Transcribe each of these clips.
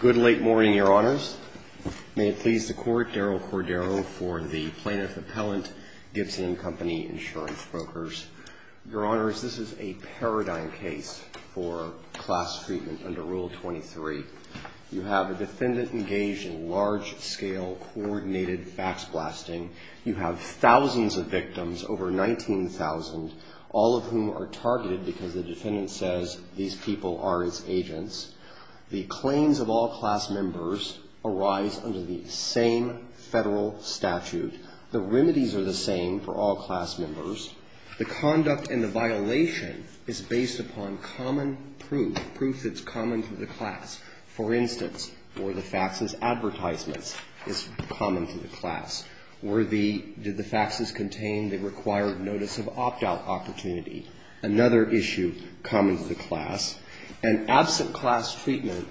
Good late morning, Your Honors. May it please the Court, Daryl Cordero for the Plaintiff Appellant, Gibson and Company Insurance Brokers. Your Honors, this is a paradigm case for class treatment under Rule 23. You have a defendant engaged in large-scale coordinated fax blasting. You have thousands of victims, over 19,000, all of whom are targeted because the defendant says these people are his agents. The claims of all class members arise under the same federal statute. The remedies are the same for all class members. The conduct and the violation is based upon common proof, proof that's common to the class. For instance, were the faxes advertisements is common to the class? Were the, did the faxes contain the required notice of opt-out opportunity? Another issue common to the class. And absent class treatment,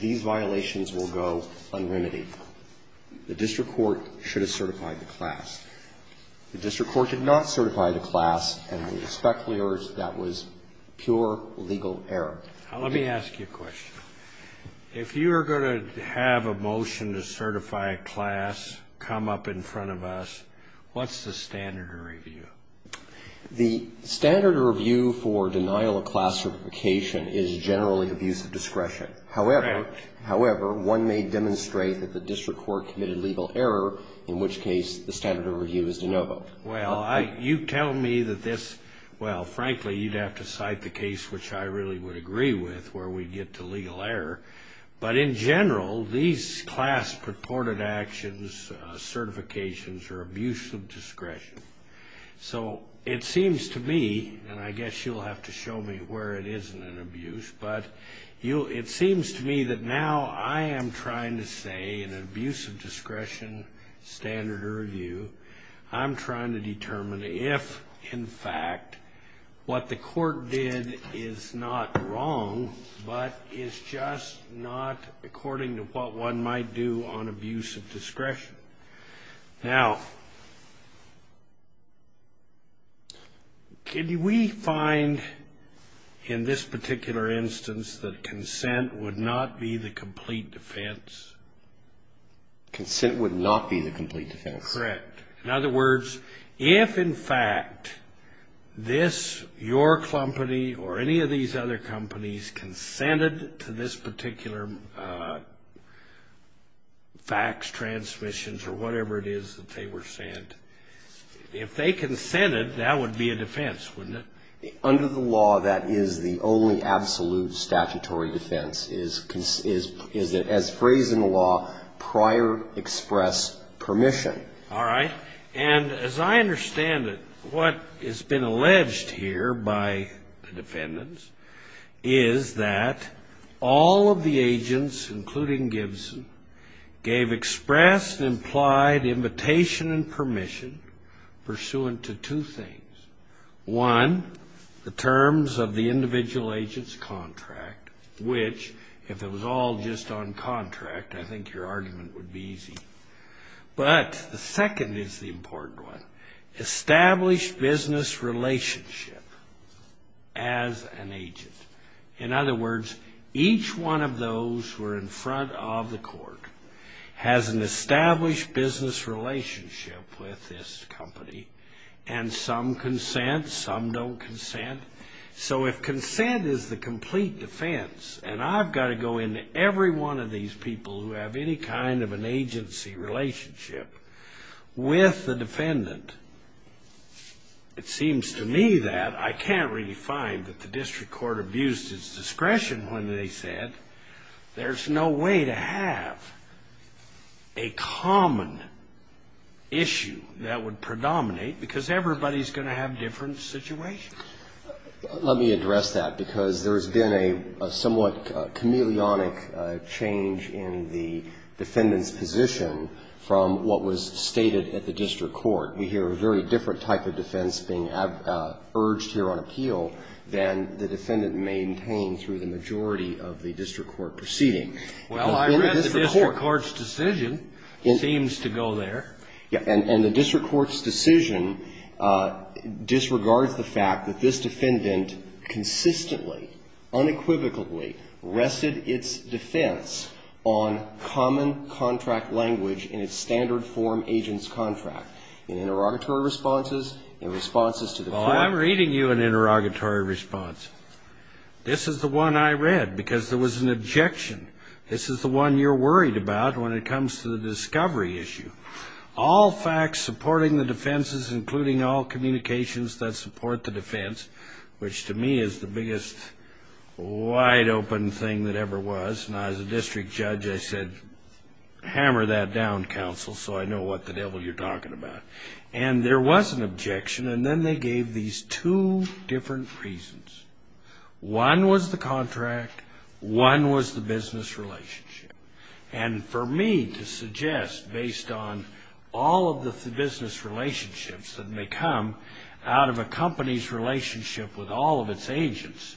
these violations will go unremitied. The district court should have certified the class. The district court did not certify the class, and we expect that was pure legal error. Let me ask you a question. If you are going to have a motion to certify a class come up in front of us, what's the standard of review? The standard of review for denial of class certification is generally abuse of discretion. However, one may demonstrate that the district court committed legal error, in which case the standard of review is de novo. Well, you tell me that this, well, frankly, you'd have to cite the case which I really would agree with where we get to legal error. But in general, these class purported actions, certifications are abuse of discretion. So it seems to me, and I guess you'll have to show me where it isn't an abuse. But it seems to me that now I am trying to say, in an abuse of discretion standard of review, I'm trying to determine if, in fact, what the court did is not wrong, but is just not according to what one might do on abuse of discretion. Now, can we find in this particular instance that consent would not be the complete defense? Consent would not be the complete defense. Correct. In other words, if, in fact, this, your company, or any of these other companies, consented to this particular fax, transmissions, or whatever it is that they were sent, if they consented, that would be a defense, wouldn't it? Under the law, that is the only absolute statutory defense, is that, as phrased in the law, prior express permission. All right. And as I understand it, what has been alleged here by the defendants is that all of the agents, including Gibson, gave expressed and implied invitation and permission pursuant to two things. One, the terms of the individual agent's contract, which, if it was all just on contract, I think your argument would be easy. But the second is the important one, established business relationship as an agent. In other words, each one of those who are in front of the court has an established business relationship with this company, and some consent, some don't consent. So if consent is the complete defense, and I've got to go into every one of these people who have any kind of an agency relationship with the defendant, it seems to me that I can't really find that the district court abused its discretion when they said there's no way to have a common issue that would predominate, because everybody's going to have different situations. Let me address that, because there has been a somewhat chameleonic change in the defendant's position from what was stated at the district court. We hear a very different type of defense being urged here on appeal than the defendant maintained through the majority of the district court proceeding. Well, I read the district court's decision. It seems to go there. Yeah. And the district court's decision disregards the fact that this defendant consistently, unequivocally rested its defense on common contract language in its standard form agent's contract, in interrogatory responses, in responses to the court. Well, I'm reading you an interrogatory response. This is the one I read, because there was an objection. This is the one you're worried about when it comes to the discovery issue. All facts supporting the defenses, including all communications that support the defense, which to me is the biggest wide-open thing that ever was. And as a district judge, I said, hammer that down, counsel, so I know what the devil you're talking about. And there was an objection, and then they gave these two different reasons. One was the contract. One was the business relationship. And for me to suggest, based on all of the business relationships that may come out of a company's relationship with all of its agents,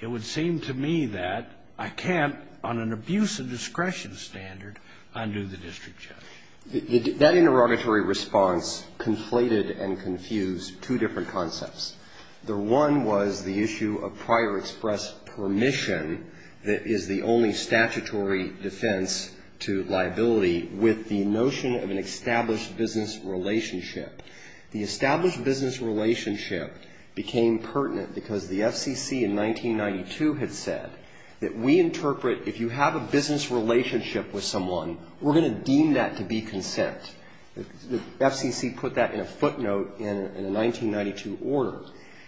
it would seem to me that I can't, on an abuse of discretion standard, undo the district judge. That interrogatory response conflated and confused two different concepts. The one was the issue of prior express permission that is the only statutory defense to liability, with the notion of an established business relationship. The established business relationship became pertinent because the FCC in 1992 had said that we interpret, if you have a business relationship with someone, we're going to deem that to be consent. The FCC put that in a footnote in a 1992 order.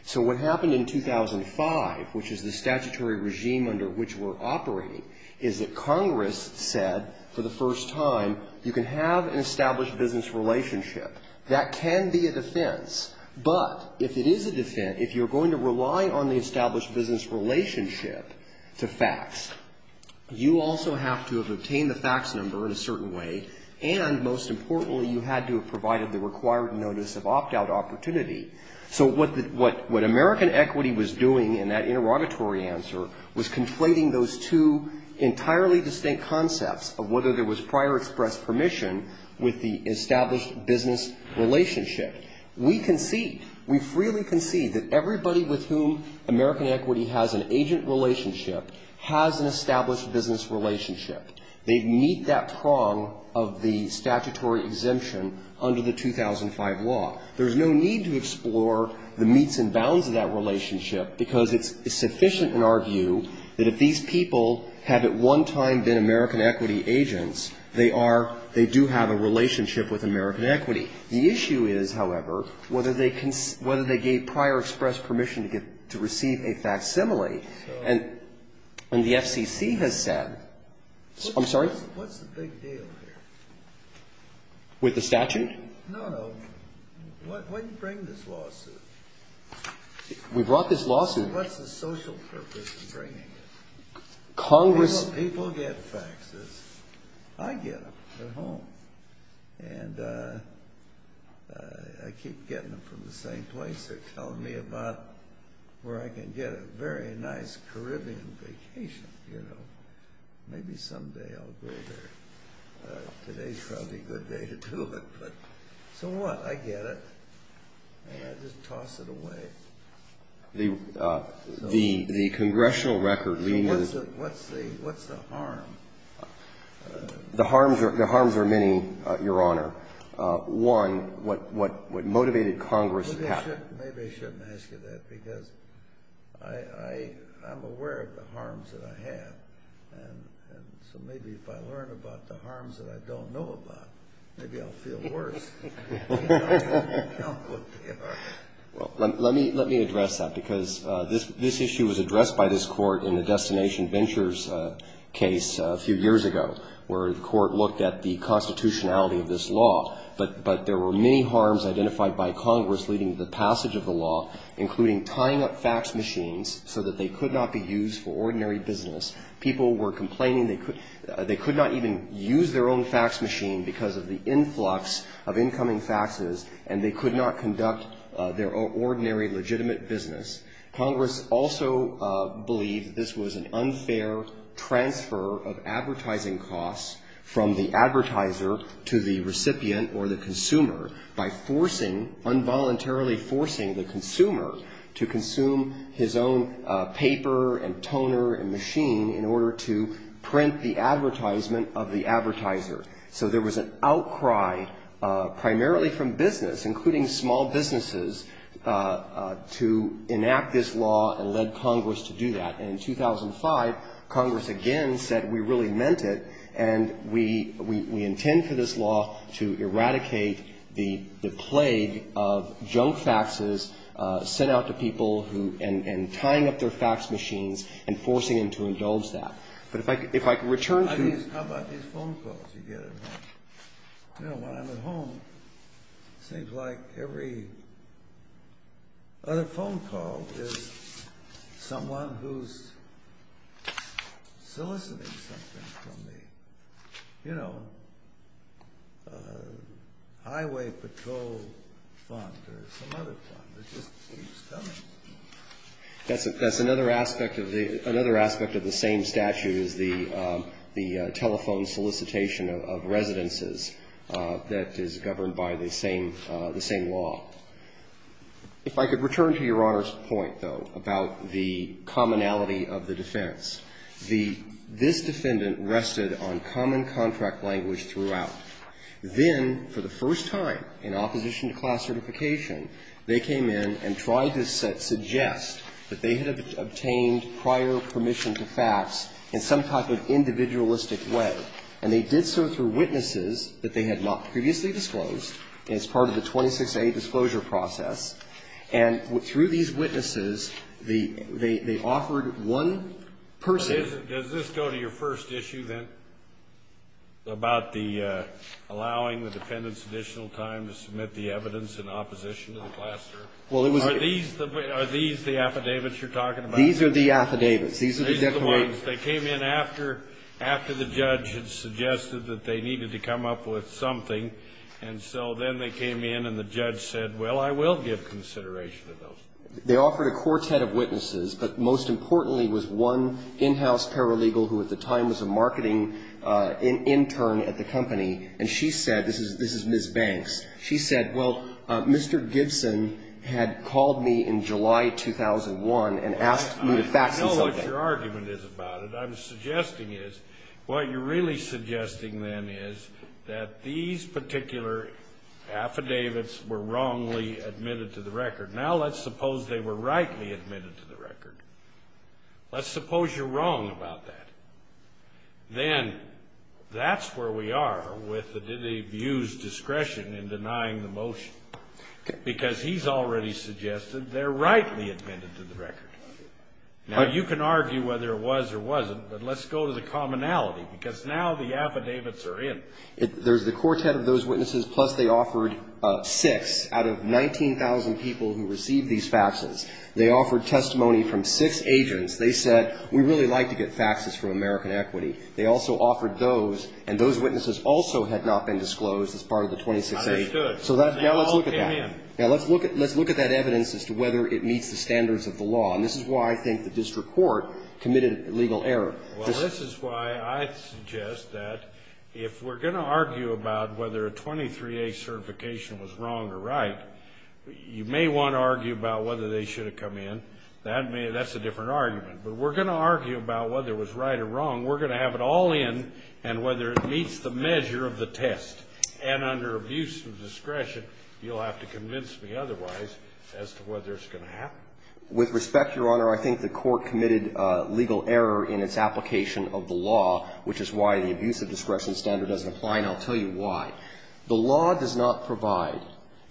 So what happened in 2005, which is the statutory regime under which we're operating, is that Congress said for the first time, you can have an established business relationship. That can be a defense. But if it is a defense, if you're going to rely on the established business relationship to fax, you also have to have obtained the fax number in a certain way, and most importantly you had to have provided the required notice of opt-out opportunity. So what American Equity was doing in that interrogatory answer was conflating those two entirely distinct concepts of whether there was prior express permission with the established business relationship. We concede, we freely concede that everybody with whom American Equity has an agent relationship has an established business relationship. They meet that prong of the statutory exemption under the 2005 law. There's no need to explore the meets and bounds of that relationship because it's sufficient to argue that if these people have at one time been American Equity agents, they are, they do have a relationship with American Equity. The issue is, however, whether they gave prior express permission to receive a facsimile, and the FCC has said, I'm sorry? What's the big deal here? With the statute? No, no. Why did you bring this lawsuit? We brought this lawsuit. What's the social purpose in bringing it? Congress People get faxes. I get them at home. And I keep getting them from the same place. They're telling me about where I can get a very nice Caribbean vacation, you know. Maybe someday I'll go there. Today's probably a good day to do it. So what? I get it. And I just toss it away. The congressional record leaves What's the harm? The harms are many, Your Honor. One, what motivated Congress Maybe I shouldn't ask you that because I'm aware of the harms that I have. And so maybe if I learn about the harms that I don't know about, maybe I'll feel worse. Well, let me address that, because this issue was addressed by this Court in the Destination Ventures case a few years ago, where the Court looked at the constitutionality of this law. But there were many harms identified by Congress leading to the passage of the law, including tying up fax machines so that they could not be used for ordinary business. People were complaining they could not even use their own fax machine because of the influx of information and incoming faxes, and they could not conduct their ordinary legitimate business. Congress also believed this was an unfair transfer of advertising costs from the advertiser to the recipient or the consumer by forcing, involuntarily forcing the consumer to consume his own paper and toner and machine in order to print the advertisement of the advertiser. So there was an outcry primarily from business, including small businesses, to enact this law and led Congress to do that. And in 2005, Congress again said we really meant it, and we intend for this law to eradicate the plague of junk faxes sent out to people and tying up their fax machines and forcing them to indulge that. But if I could return to... How about these phone calls you get at home? You know, when I'm at home, it seems like every other phone call is someone who's soliciting something from the, you know, highway patrol fund or some other fund. It just keeps coming. That's another aspect of the same statute is the telephone solicitation of residences that is governed by the same law. If I could return to Your Honor's point, though, about the commonality of the defense, this defendant rested on common contract language throughout. Then, for the first time in opposition to class certification, they came in and tried to suggest that they had obtained prior permission to fax in some type of individualistic way. And they did so through witnesses that they had not previously disclosed, and it's part of the 26A disclosure process. And through these witnesses, they offered one person... Allowing the defendant's additional time to submit the evidence in opposition to the class cert. Well, it was... Are these the affidavits you're talking about? These are the affidavits. These are the declarations. These are the ones. They came in after the judge had suggested that they needed to come up with something. And so then they came in and the judge said, well, I will give consideration to those. They offered a quartet of witnesses, but most importantly was one in-house paralegal who at the time was a marketing intern at the company, and she said, this is Ms. Banks. She said, well, Mr. Gibson had called me in July 2001 and asked me to fax him something. I know what your argument is about it. I'm suggesting is, what you're really suggesting then is that these particular affidavits were wrongly admitted to the record. Let's suppose you're wrong about that. Then that's where we are with the abuse discretion in denying the motion, because he's already suggested they're rightly admitted to the record. Now, you can argue whether it was or wasn't, but let's go to the commonality, because now the affidavits are in. There's the quartet of those witnesses, plus they offered six out of 19,000 people who received these faxes. They offered testimony from six agents. They said, we really like to get faxes from American Equity. They also offered those, and those witnesses also had not been disclosed as part of the 26A. I understood. So now let's look at that. Now, let's look at that evidence as to whether it meets the standards of the law, and this is why I think the district court committed a legal error. Well, this is why I suggest that if we're going to argue about whether a 23A certification was wrong or right, you may want to argue about whether they should have come in. That's a different argument. But we're going to argue about whether it was right or wrong. We're going to have it all in and whether it meets the measure of the test. And under abuse of discretion, you'll have to convince me otherwise as to whether it's going to happen. With respect, Your Honor, I think the court committed legal error in its application of the law, which is why the abuse of discretion standard doesn't apply, and I'll tell you why. The law does not provide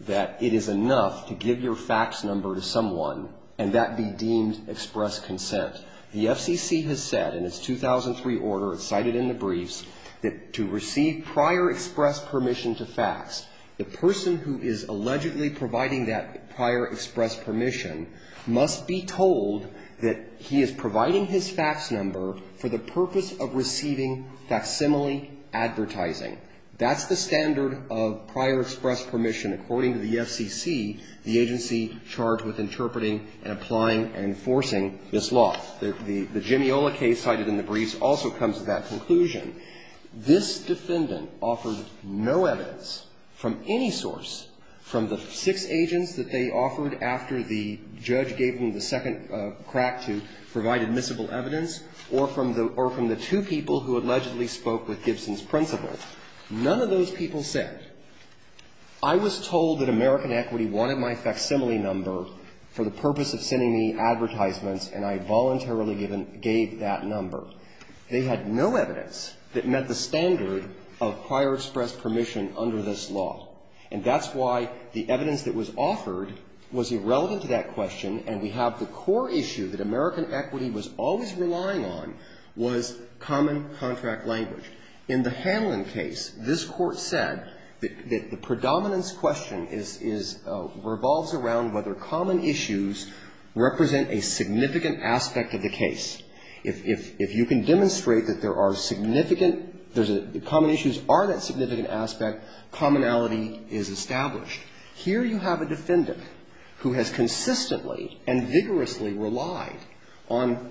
that it is enough to give your fax number to someone and that be deemed express consent. The FCC has said in its 2003 order, cited in the briefs, that to receive prior express permission to fax, the person who is allegedly providing that prior express permission must be told that he is providing his fax number for the purpose of receiving facsimile advertising. That's the standard of prior express permission, according to the FCC, the agency charged with interpreting and applying and enforcing this law. The Gemiola case cited in the briefs also comes to that conclusion. This defendant offered no evidence from any source from the six agents that they offered after the judge gave them the second crack to provide admissible evidence or from the two people who allegedly spoke with Gibson's principal. None of those people said, I was told that American Equity wanted my facsimile number for the purpose of sending me advertisements, and I voluntarily gave that number. They had no evidence that met the standard of prior express permission under this law. And that's why the evidence that was offered was irrelevant to that question, And we have the core issue that American Equity was always relying on was common contract language. In the Hanlon case, this Court said that the predominance question is, revolves around whether common issues represent a significant aspect of the case. If you can demonstrate that there are significant, common issues are that significant aspect, commonality is established. Here you have a defendant who has consistently and vigorously relied on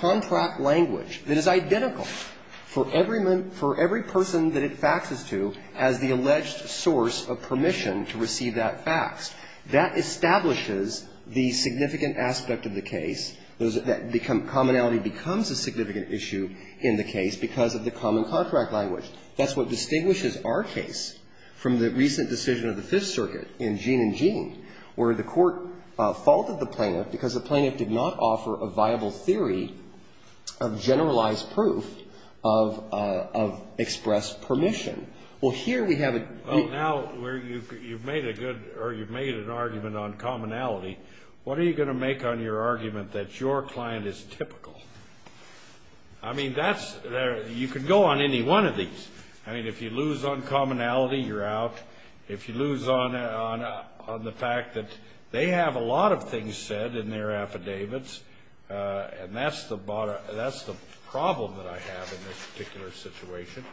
contract language that is identical for every person that it faxes to as the alleged source of permission to receive that fax. That establishes the significant aspect of the case. Commonality becomes a significant issue in the case because of the common contract language. That's what distinguishes our case from the recent decision of the Fifth Circuit in Jean and Jean, where the Court faulted the plaintiff because the plaintiff did not offer a viable theory of generalized proof of expressed permission. Well, here we have a great ---- Well, now you've made a good or you've made an argument on commonality. What are you going to make on your argument that your client is typical? I mean, that's, you can go on any one of these. I mean, if you lose on commonality, you're out. If you lose on the fact that they have a lot of things said in their affidavits, and that's the problem that I have in this particular situation,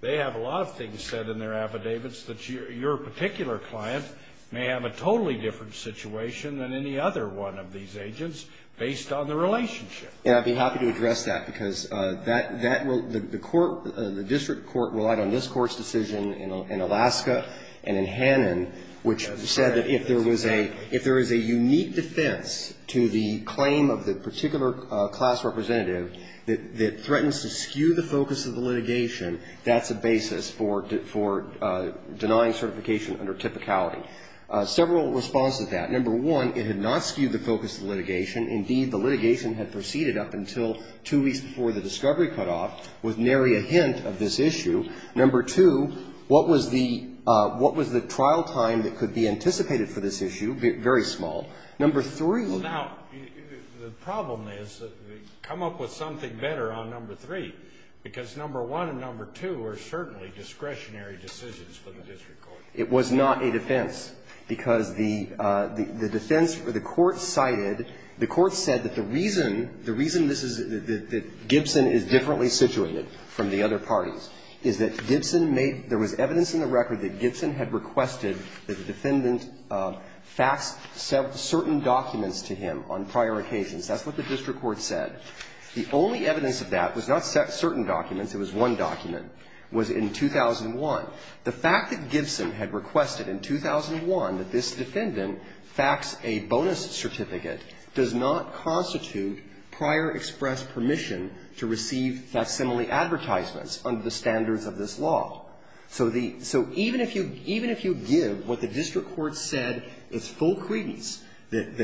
they have a lot of things said in their affidavits that your particular client may have a totally different situation than any other one of these agents based on the relationship. And I'd be happy to address that, because that will, the court, the district court relied on this Court's decision in Alaska and in Hannon, which said that if there was a, if there is a unique defense to the claim of the particular class representative that threatens to skew the focus of the litigation, that's a basis for denying certification under typicality. Several responses to that. Number two, what was the, what was the trial time that could be anticipated for this issue? Very small. Number three. Now, the problem is, come up with something better on number three, because number one and number two are certainly discretionary decisions for the district court. It was not a defense, because the defense, the court cited the court's decision that the defendant faxed certain documents to him on prior occasions. That's what the district court said. The only evidence of that was not certain documents. It was one document. It was in 2001. The fact that Gibson had requested in 2001 that this defendant fax a bonus certificate It doesn't make any sense to me. prior express permission to receive facsimile advertisements under the standards of this law. So the, so even if you, even if you give what the district court said as full credence, that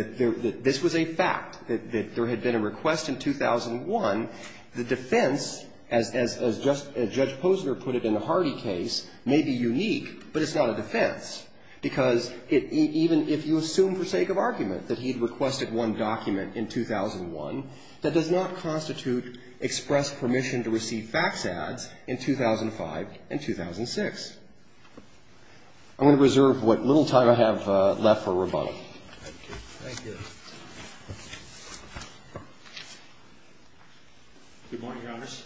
this was a fact, that there had been a request in 2001, the defense, as Judge Posner put it in the Hardy case, may be unique, but it's not a defense, because even if you assume for sake of argument that he had requested one document in 2001, that does not constitute express permission to receive fax ads in 2005 and 2006. I'm going to reserve what little time I have left for rebuttal. Thank you. Thank you. Good morning, Your Honors.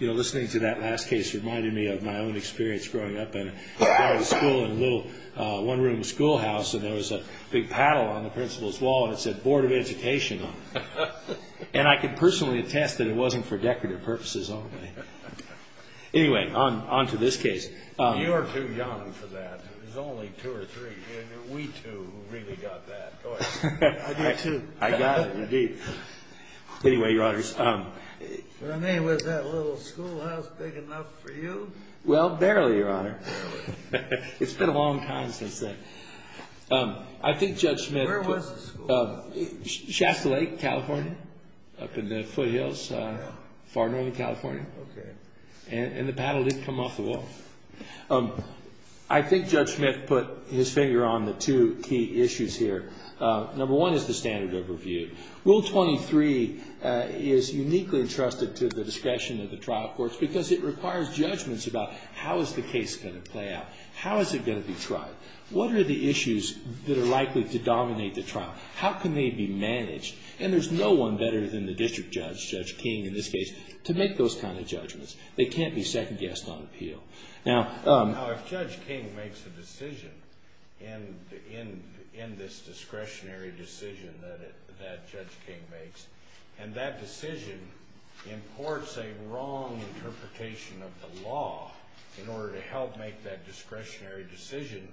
You know, listening to that last case reminded me of my own experience growing up in a private school in a little one-room schoolhouse, and there was a big paddle on the principal's wall, and it said Board of Education on it. And I can personally attest that it wasn't for decorative purposes only. Anyway, on to this case. You're too young for that. There's only two or three, and we two really got that. I do, too. I got it, indeed. Anyway, Your Honors. Was that little schoolhouse big enough for you? Well, barely, Your Honor. It's been a long time since then. Where was the school? Shasta Lake, California, up in the foothills, far northern California. Okay. And the paddle didn't come off the wall. I think Judge Smith put his finger on the two key issues here. Number one is the standard overview. Rule 23 is uniquely entrusted to the discretion of the trial courts because it requires judgments about how is the case going to play out? How is it going to be tried? What are the issues that are likely to dominate the trial? How can they be managed? And there's no one better than the district judge, Judge King, in this case, to make those kind of judgments. They can't be second-guessed on appeal. Now, if Judge King makes a decision in this discretionary decision that Judge King makes, and that decision imports a wrong interpretation of the law in order to help make that discretionary decision,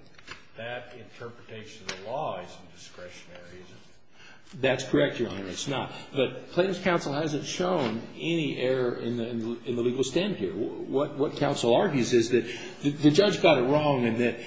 that interpretation of the law isn't discretionary, is it? That's correct, Your Honor. It's not. But plaintiff's counsel hasn't shown any error in the legal stand here. What counsel argues is that the judge got it wrong and that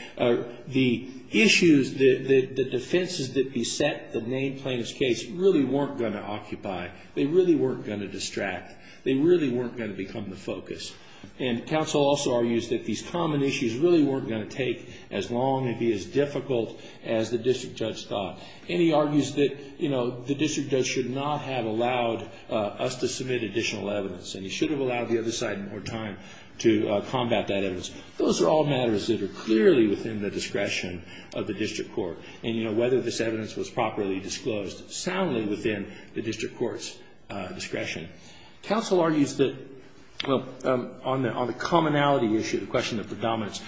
the issues, the defenses that beset the named plaintiff's case really weren't going to occupy. They really weren't going to distract. They really weren't going to become the focus. And counsel also argues that these common issues really weren't going to take as long and be as difficult as the district judge thought. And he argues that, you know, the district judge should not have allowed us to submit additional evidence. And he should have allowed the other side more time to combat that evidence. Those are all matters that are clearly within the discretion of the district court. And, you know, whether this evidence was properly disclosed soundly within the district court's discretion. Counsel argues that on the commonality issue, the question of predominance,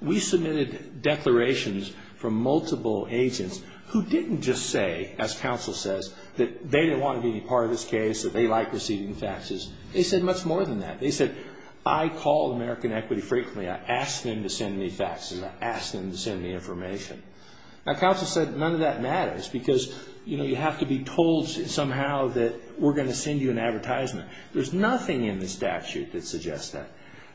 we submitted declarations from multiple agents who didn't just say, as counsel says, that they didn't want to be any part of this case, that they liked receiving faxes. They said much more than that. They said, I call American Equity frequently. I ask them to send me faxes. I ask them to send me information. Now, counsel said none of that matters because, you know, you have to be told somehow that we're going to send you an advertisement. There's nothing in the statute that suggests that.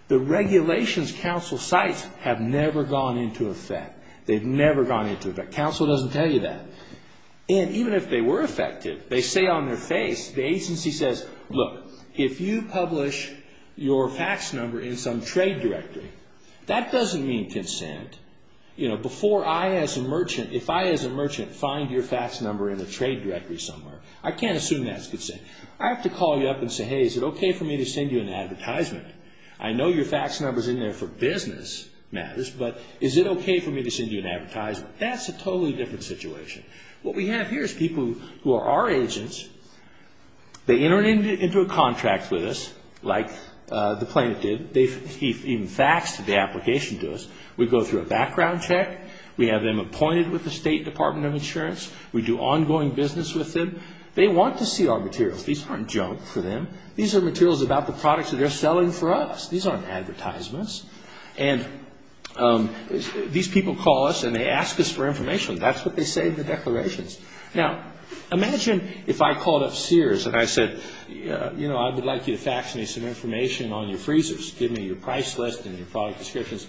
The regulations counsel cites have never gone into effect. They've never gone into effect. Counsel doesn't tell you that. And even if they were effective, they say on their face, the agency says, look, if you publish your fax number in some trade directory, that doesn't mean consent. You know, before I as a merchant, if I as a merchant find your fax number in a trade directory somewhere, I can't assume that's consent. I have to call you up and say, hey, is it okay for me to send you an advertisement? I know your fax number's in there for business matters, but is it okay for me to send you an advertisement? That's a totally different situation. What we have here is people who are our agents. They enter into a contract with us like the plaintiff did. He even faxed the application to us. We go through a background check. We have them appointed with the State Department of Insurance. We do ongoing business with them. They want to see our materials. These aren't junk for them. These are materials about the products that they're selling for us. These aren't advertisements. And these people call us and they ask us for information. That's what they say in the declarations. Now, imagine if I called up Sears and I said, you know, I would like you to fax me some information on your freezers. Give me your price list and your product descriptions.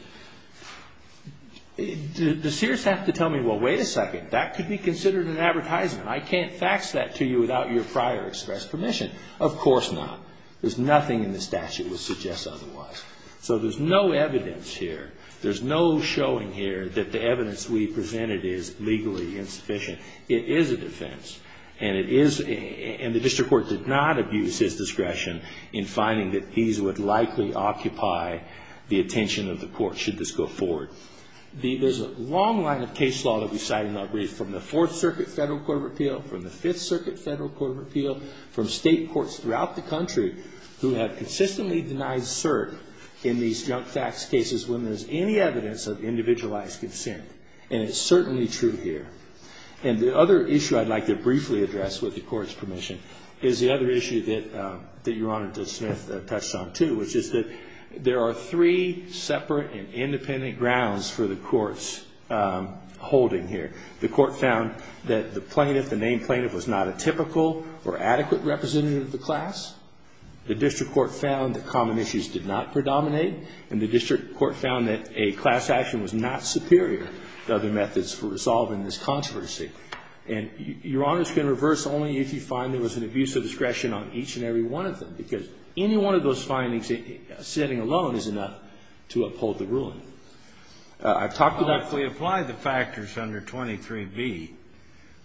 The Sears have to tell me, well, wait a second. That could be considered an advertisement. I can't fax that to you without your prior express permission. Of course not. There's nothing in the statute which suggests otherwise. So there's no evidence here. There's no showing here that the evidence we presented is legally insufficient. It is a defense. And the district court did not abuse his discretion in finding that these would likely occupy the attention of the court should this go forward. There's a long line of case law that we cite and I'll read from the Fourth Circuit Federal Court of Appeal, from the Fifth Circuit Federal Court of Appeal, from state courts throughout the country who have consistently denied cert in these junk tax cases when there's any evidence of individualized consent. And it's certainly true here. And the other issue I'd like to briefly address, with the Court's permission, is the other issue that Your Honor Judge Smith touched on too, which is that there are three separate and independent grounds for the Court's holding here. The Court found that the plaintiff, the named plaintiff, was not a typical or adequate representative of the class. The district court found that common issues did not predominate. And the district court found that a class action was not superior to other methods for resolving this controversy. And Your Honor's going to reverse only if you find there was an abuse of discretion on each and every one of them, because any one of those findings, sitting alone, is enough to uphold the ruling. I've talked to that. Well, if we apply the factors under 23b,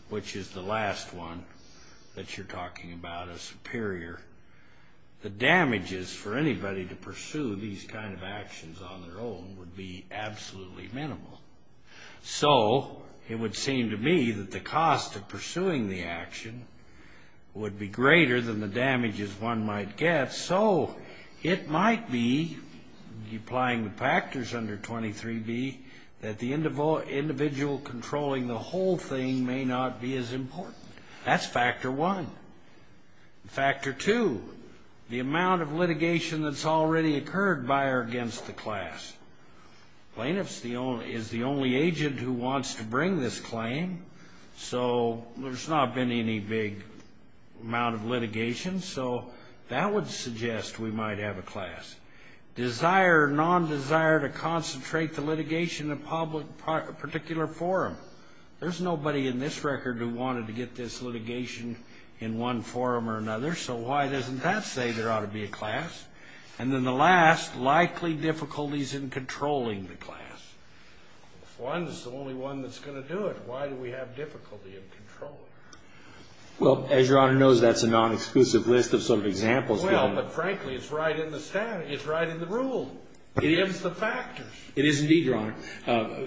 which is the last one that you're talking about as superior, the damages for anybody to pursue these kind of actions on their own would be absolutely minimal. So it would seem to me that the cost of pursuing the action would be greater than the damages one might get. So it might be, applying the factors under 23b, that the individual controlling the whole thing may not be as important. That's factor one. Factor two, the amount of litigation that's already occurred by or against the class. The plaintiff is the only agent who wants to bring this claim, so there's not been any big amount of litigation. So that would suggest we might have a class. Desire or non-desire to concentrate the litigation in a particular forum. There's nobody in this record who wanted to get this litigation in one forum or another, so why doesn't that say there ought to be a class? And then the last, likely difficulties in controlling the class. If one is the only one that's going to do it, why do we have difficulty in controlling it? Well, as Your Honor knows, that's a non-exclusive list of sort of examples. Well, but frankly, it's right in the rule. It is the factors. It is indeed, Your Honor.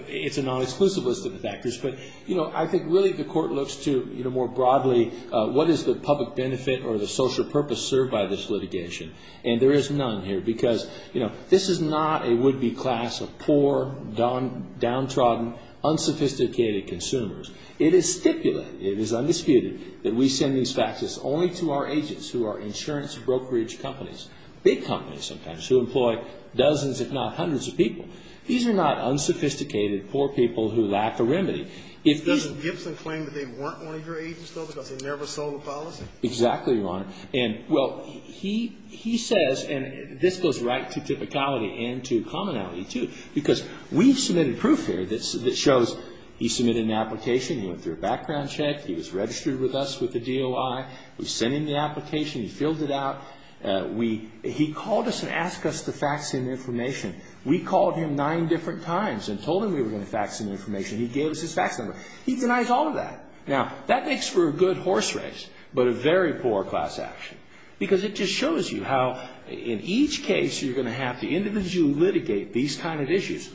It's a non-exclusive list of factors. But, you know, I think really the court looks to, you know, more broadly, what is the public benefit or the social purpose served by this litigation? And there is none here because, you know, this is not a would-be class of poor, downtrodden, unsophisticated consumers. It is stipulated. It is undisputed that we send these factors only to our agents who are insurance brokerage companies, big companies sometimes, who employ dozens, if not hundreds, of people. These are not unsophisticated, poor people who lack a remedy. If these are... Doesn't Gibson claim that they weren't one of your agents, though, because they never sold a policy? Exactly, Your Honor. And, well, he says, and this goes right to typicality and to commonality, too, because we've submitted proof here that shows he submitted an application, he went through a background check, he was registered with us with the DOI, we sent him the application, he filled it out. He called us and asked us to fax him information. We called him nine different times and told him we were going to fax him information. He gave us his fax number. He denies all of that. Now, that makes for a good horse race, but a very poor class action because it just shows you how in each case you're going to have the individual litigate these kind of issues.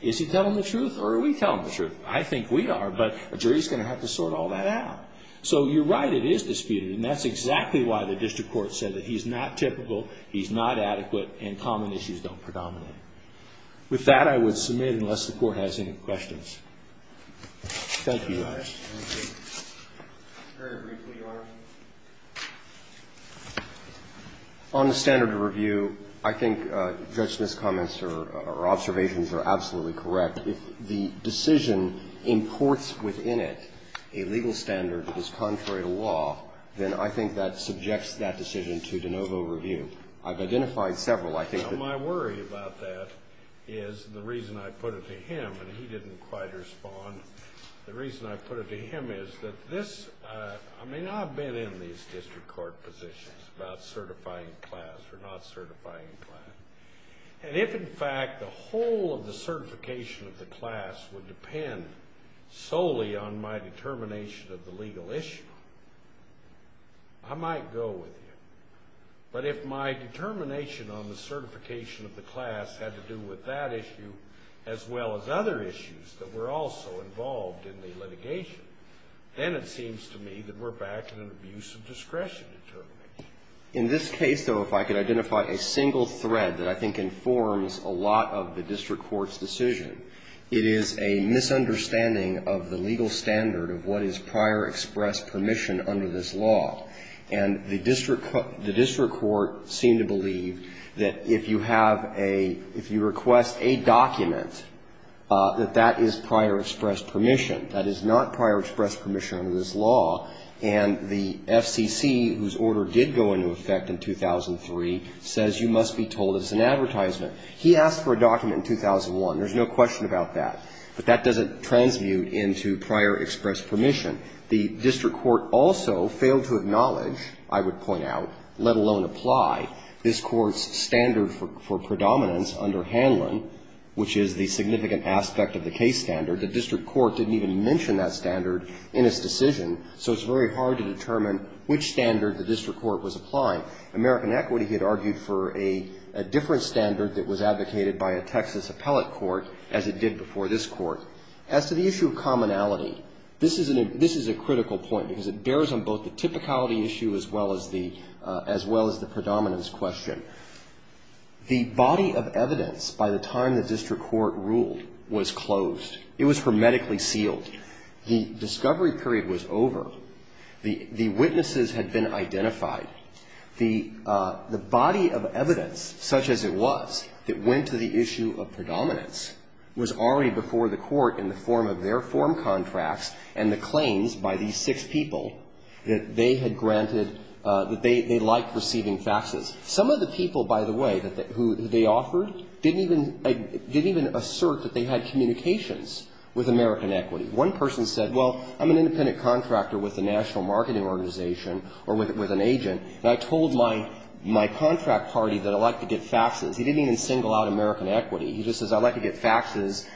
Is he telling the truth or are we telling the truth? I think we are, but a jury is going to have to sort all that out. So you're right, it is disputed, and that's exactly why the district court said that he's not typical, he's not adequate, and common issues don't predominate. With that, I would submit, unless the Court has any questions. Thank you, Your Honor. Thank you. Very briefly, Your Honor. On the standard of review, I think Judge Smith's comments or observations are absolutely correct. If the decision imports within it a legal standard that is contrary to law, then I think that subjects that decision to de novo review. I've identified several, I think. My worry about that is the reason I put it to him, and he didn't quite respond, the reason I put it to him is that this, I mean, I've been in these district court positions about certifying class or not certifying class. And if, in fact, the whole of the certification of the class would depend solely on my determination of the legal issue, I might go with you. But if my determination on the certification of the class had to do with that issue, as well as other issues that were also involved in the litigation, then it seems to me that we're back in an abuse of discretion determination. In this case, though, if I could identify a single thread that I think informs a lot of the district court's decision, it is a misunderstanding of the legal standard of what is prior express permission under this law. And the district court seemed to believe that if you have a, if you request a document, that that is prior express permission. That is not prior express permission under this law. And the FCC, whose order did go into effect in 2003, says you must be told it's an advertisement. He asked for a document in 2001. There's no question about that. But that doesn't transmute into prior express permission. The district court also failed to acknowledge, I would point out, let alone apply, this Court's standard for predominance under Hanlon, which is the significant aspect of the case standard. The district court didn't even mention that standard in its decision, so it's very hard to determine which standard the district court was applying. American Equity had argued for a different standard that was advocated by a Texas appellate court, as it did before this Court. As to the issue of commonality, this is a critical point, because it bears on both the typicality issue as well as the predominance question. The body of evidence by the time the district court ruled was closed. It was hermetically sealed. The discovery period was over. The witnesses had been identified. The body of evidence, such as it was, that went to the issue of predominance was already before the Court in the form of their form contracts and the claims by these six people that they had granted, that they liked receiving faxes. Some of the people, by the way, who they offered didn't even assert that they had communications with American Equity. One person said, well, I'm an independent contractor with a national marketing organization or with an agent, and I told my contract party that I like to get faxes. He didn't even single out American Equity. He just says, I like to get faxes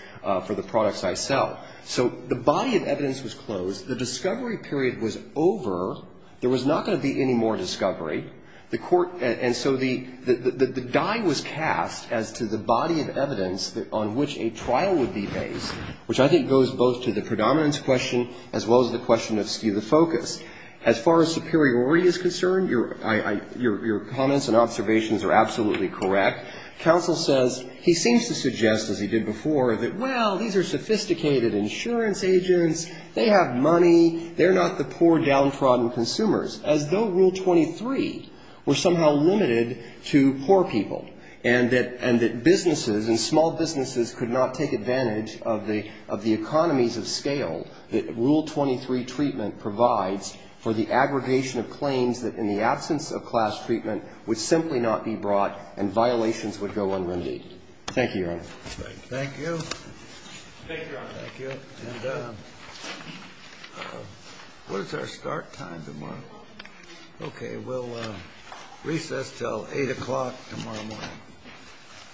for the products I sell. So the body of evidence was closed. The discovery period was over. There was not going to be any more discovery. The Court and so the die was cast as to the body of evidence on which a trial would be based, which I think goes both to the predominance question as well as the question of stele focus. As far as superiority is concerned, your comments and observations are absolutely correct. Counsel says he seems to suggest, as he did before, that, well, these are sophisticated insurance agents. They have money. They're not the poor downtrodden consumers. As though Rule 23 were somehow limited to poor people and that businesses and small businesses could not take advantage of the economies of scale that Rule 23 treatment provides for the aggregation of claims that in the absence of class treatment would simply not be brought and violations would go unrendered. Thank you, Your Honor. Thank you. Thank you, Your Honor. Thank you. And what is our start time tomorrow? Okay. We'll recess till 8 o'clock tomorrow morning.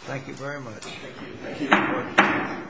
Thank you very much. Thank you. Thank you, Your Honor.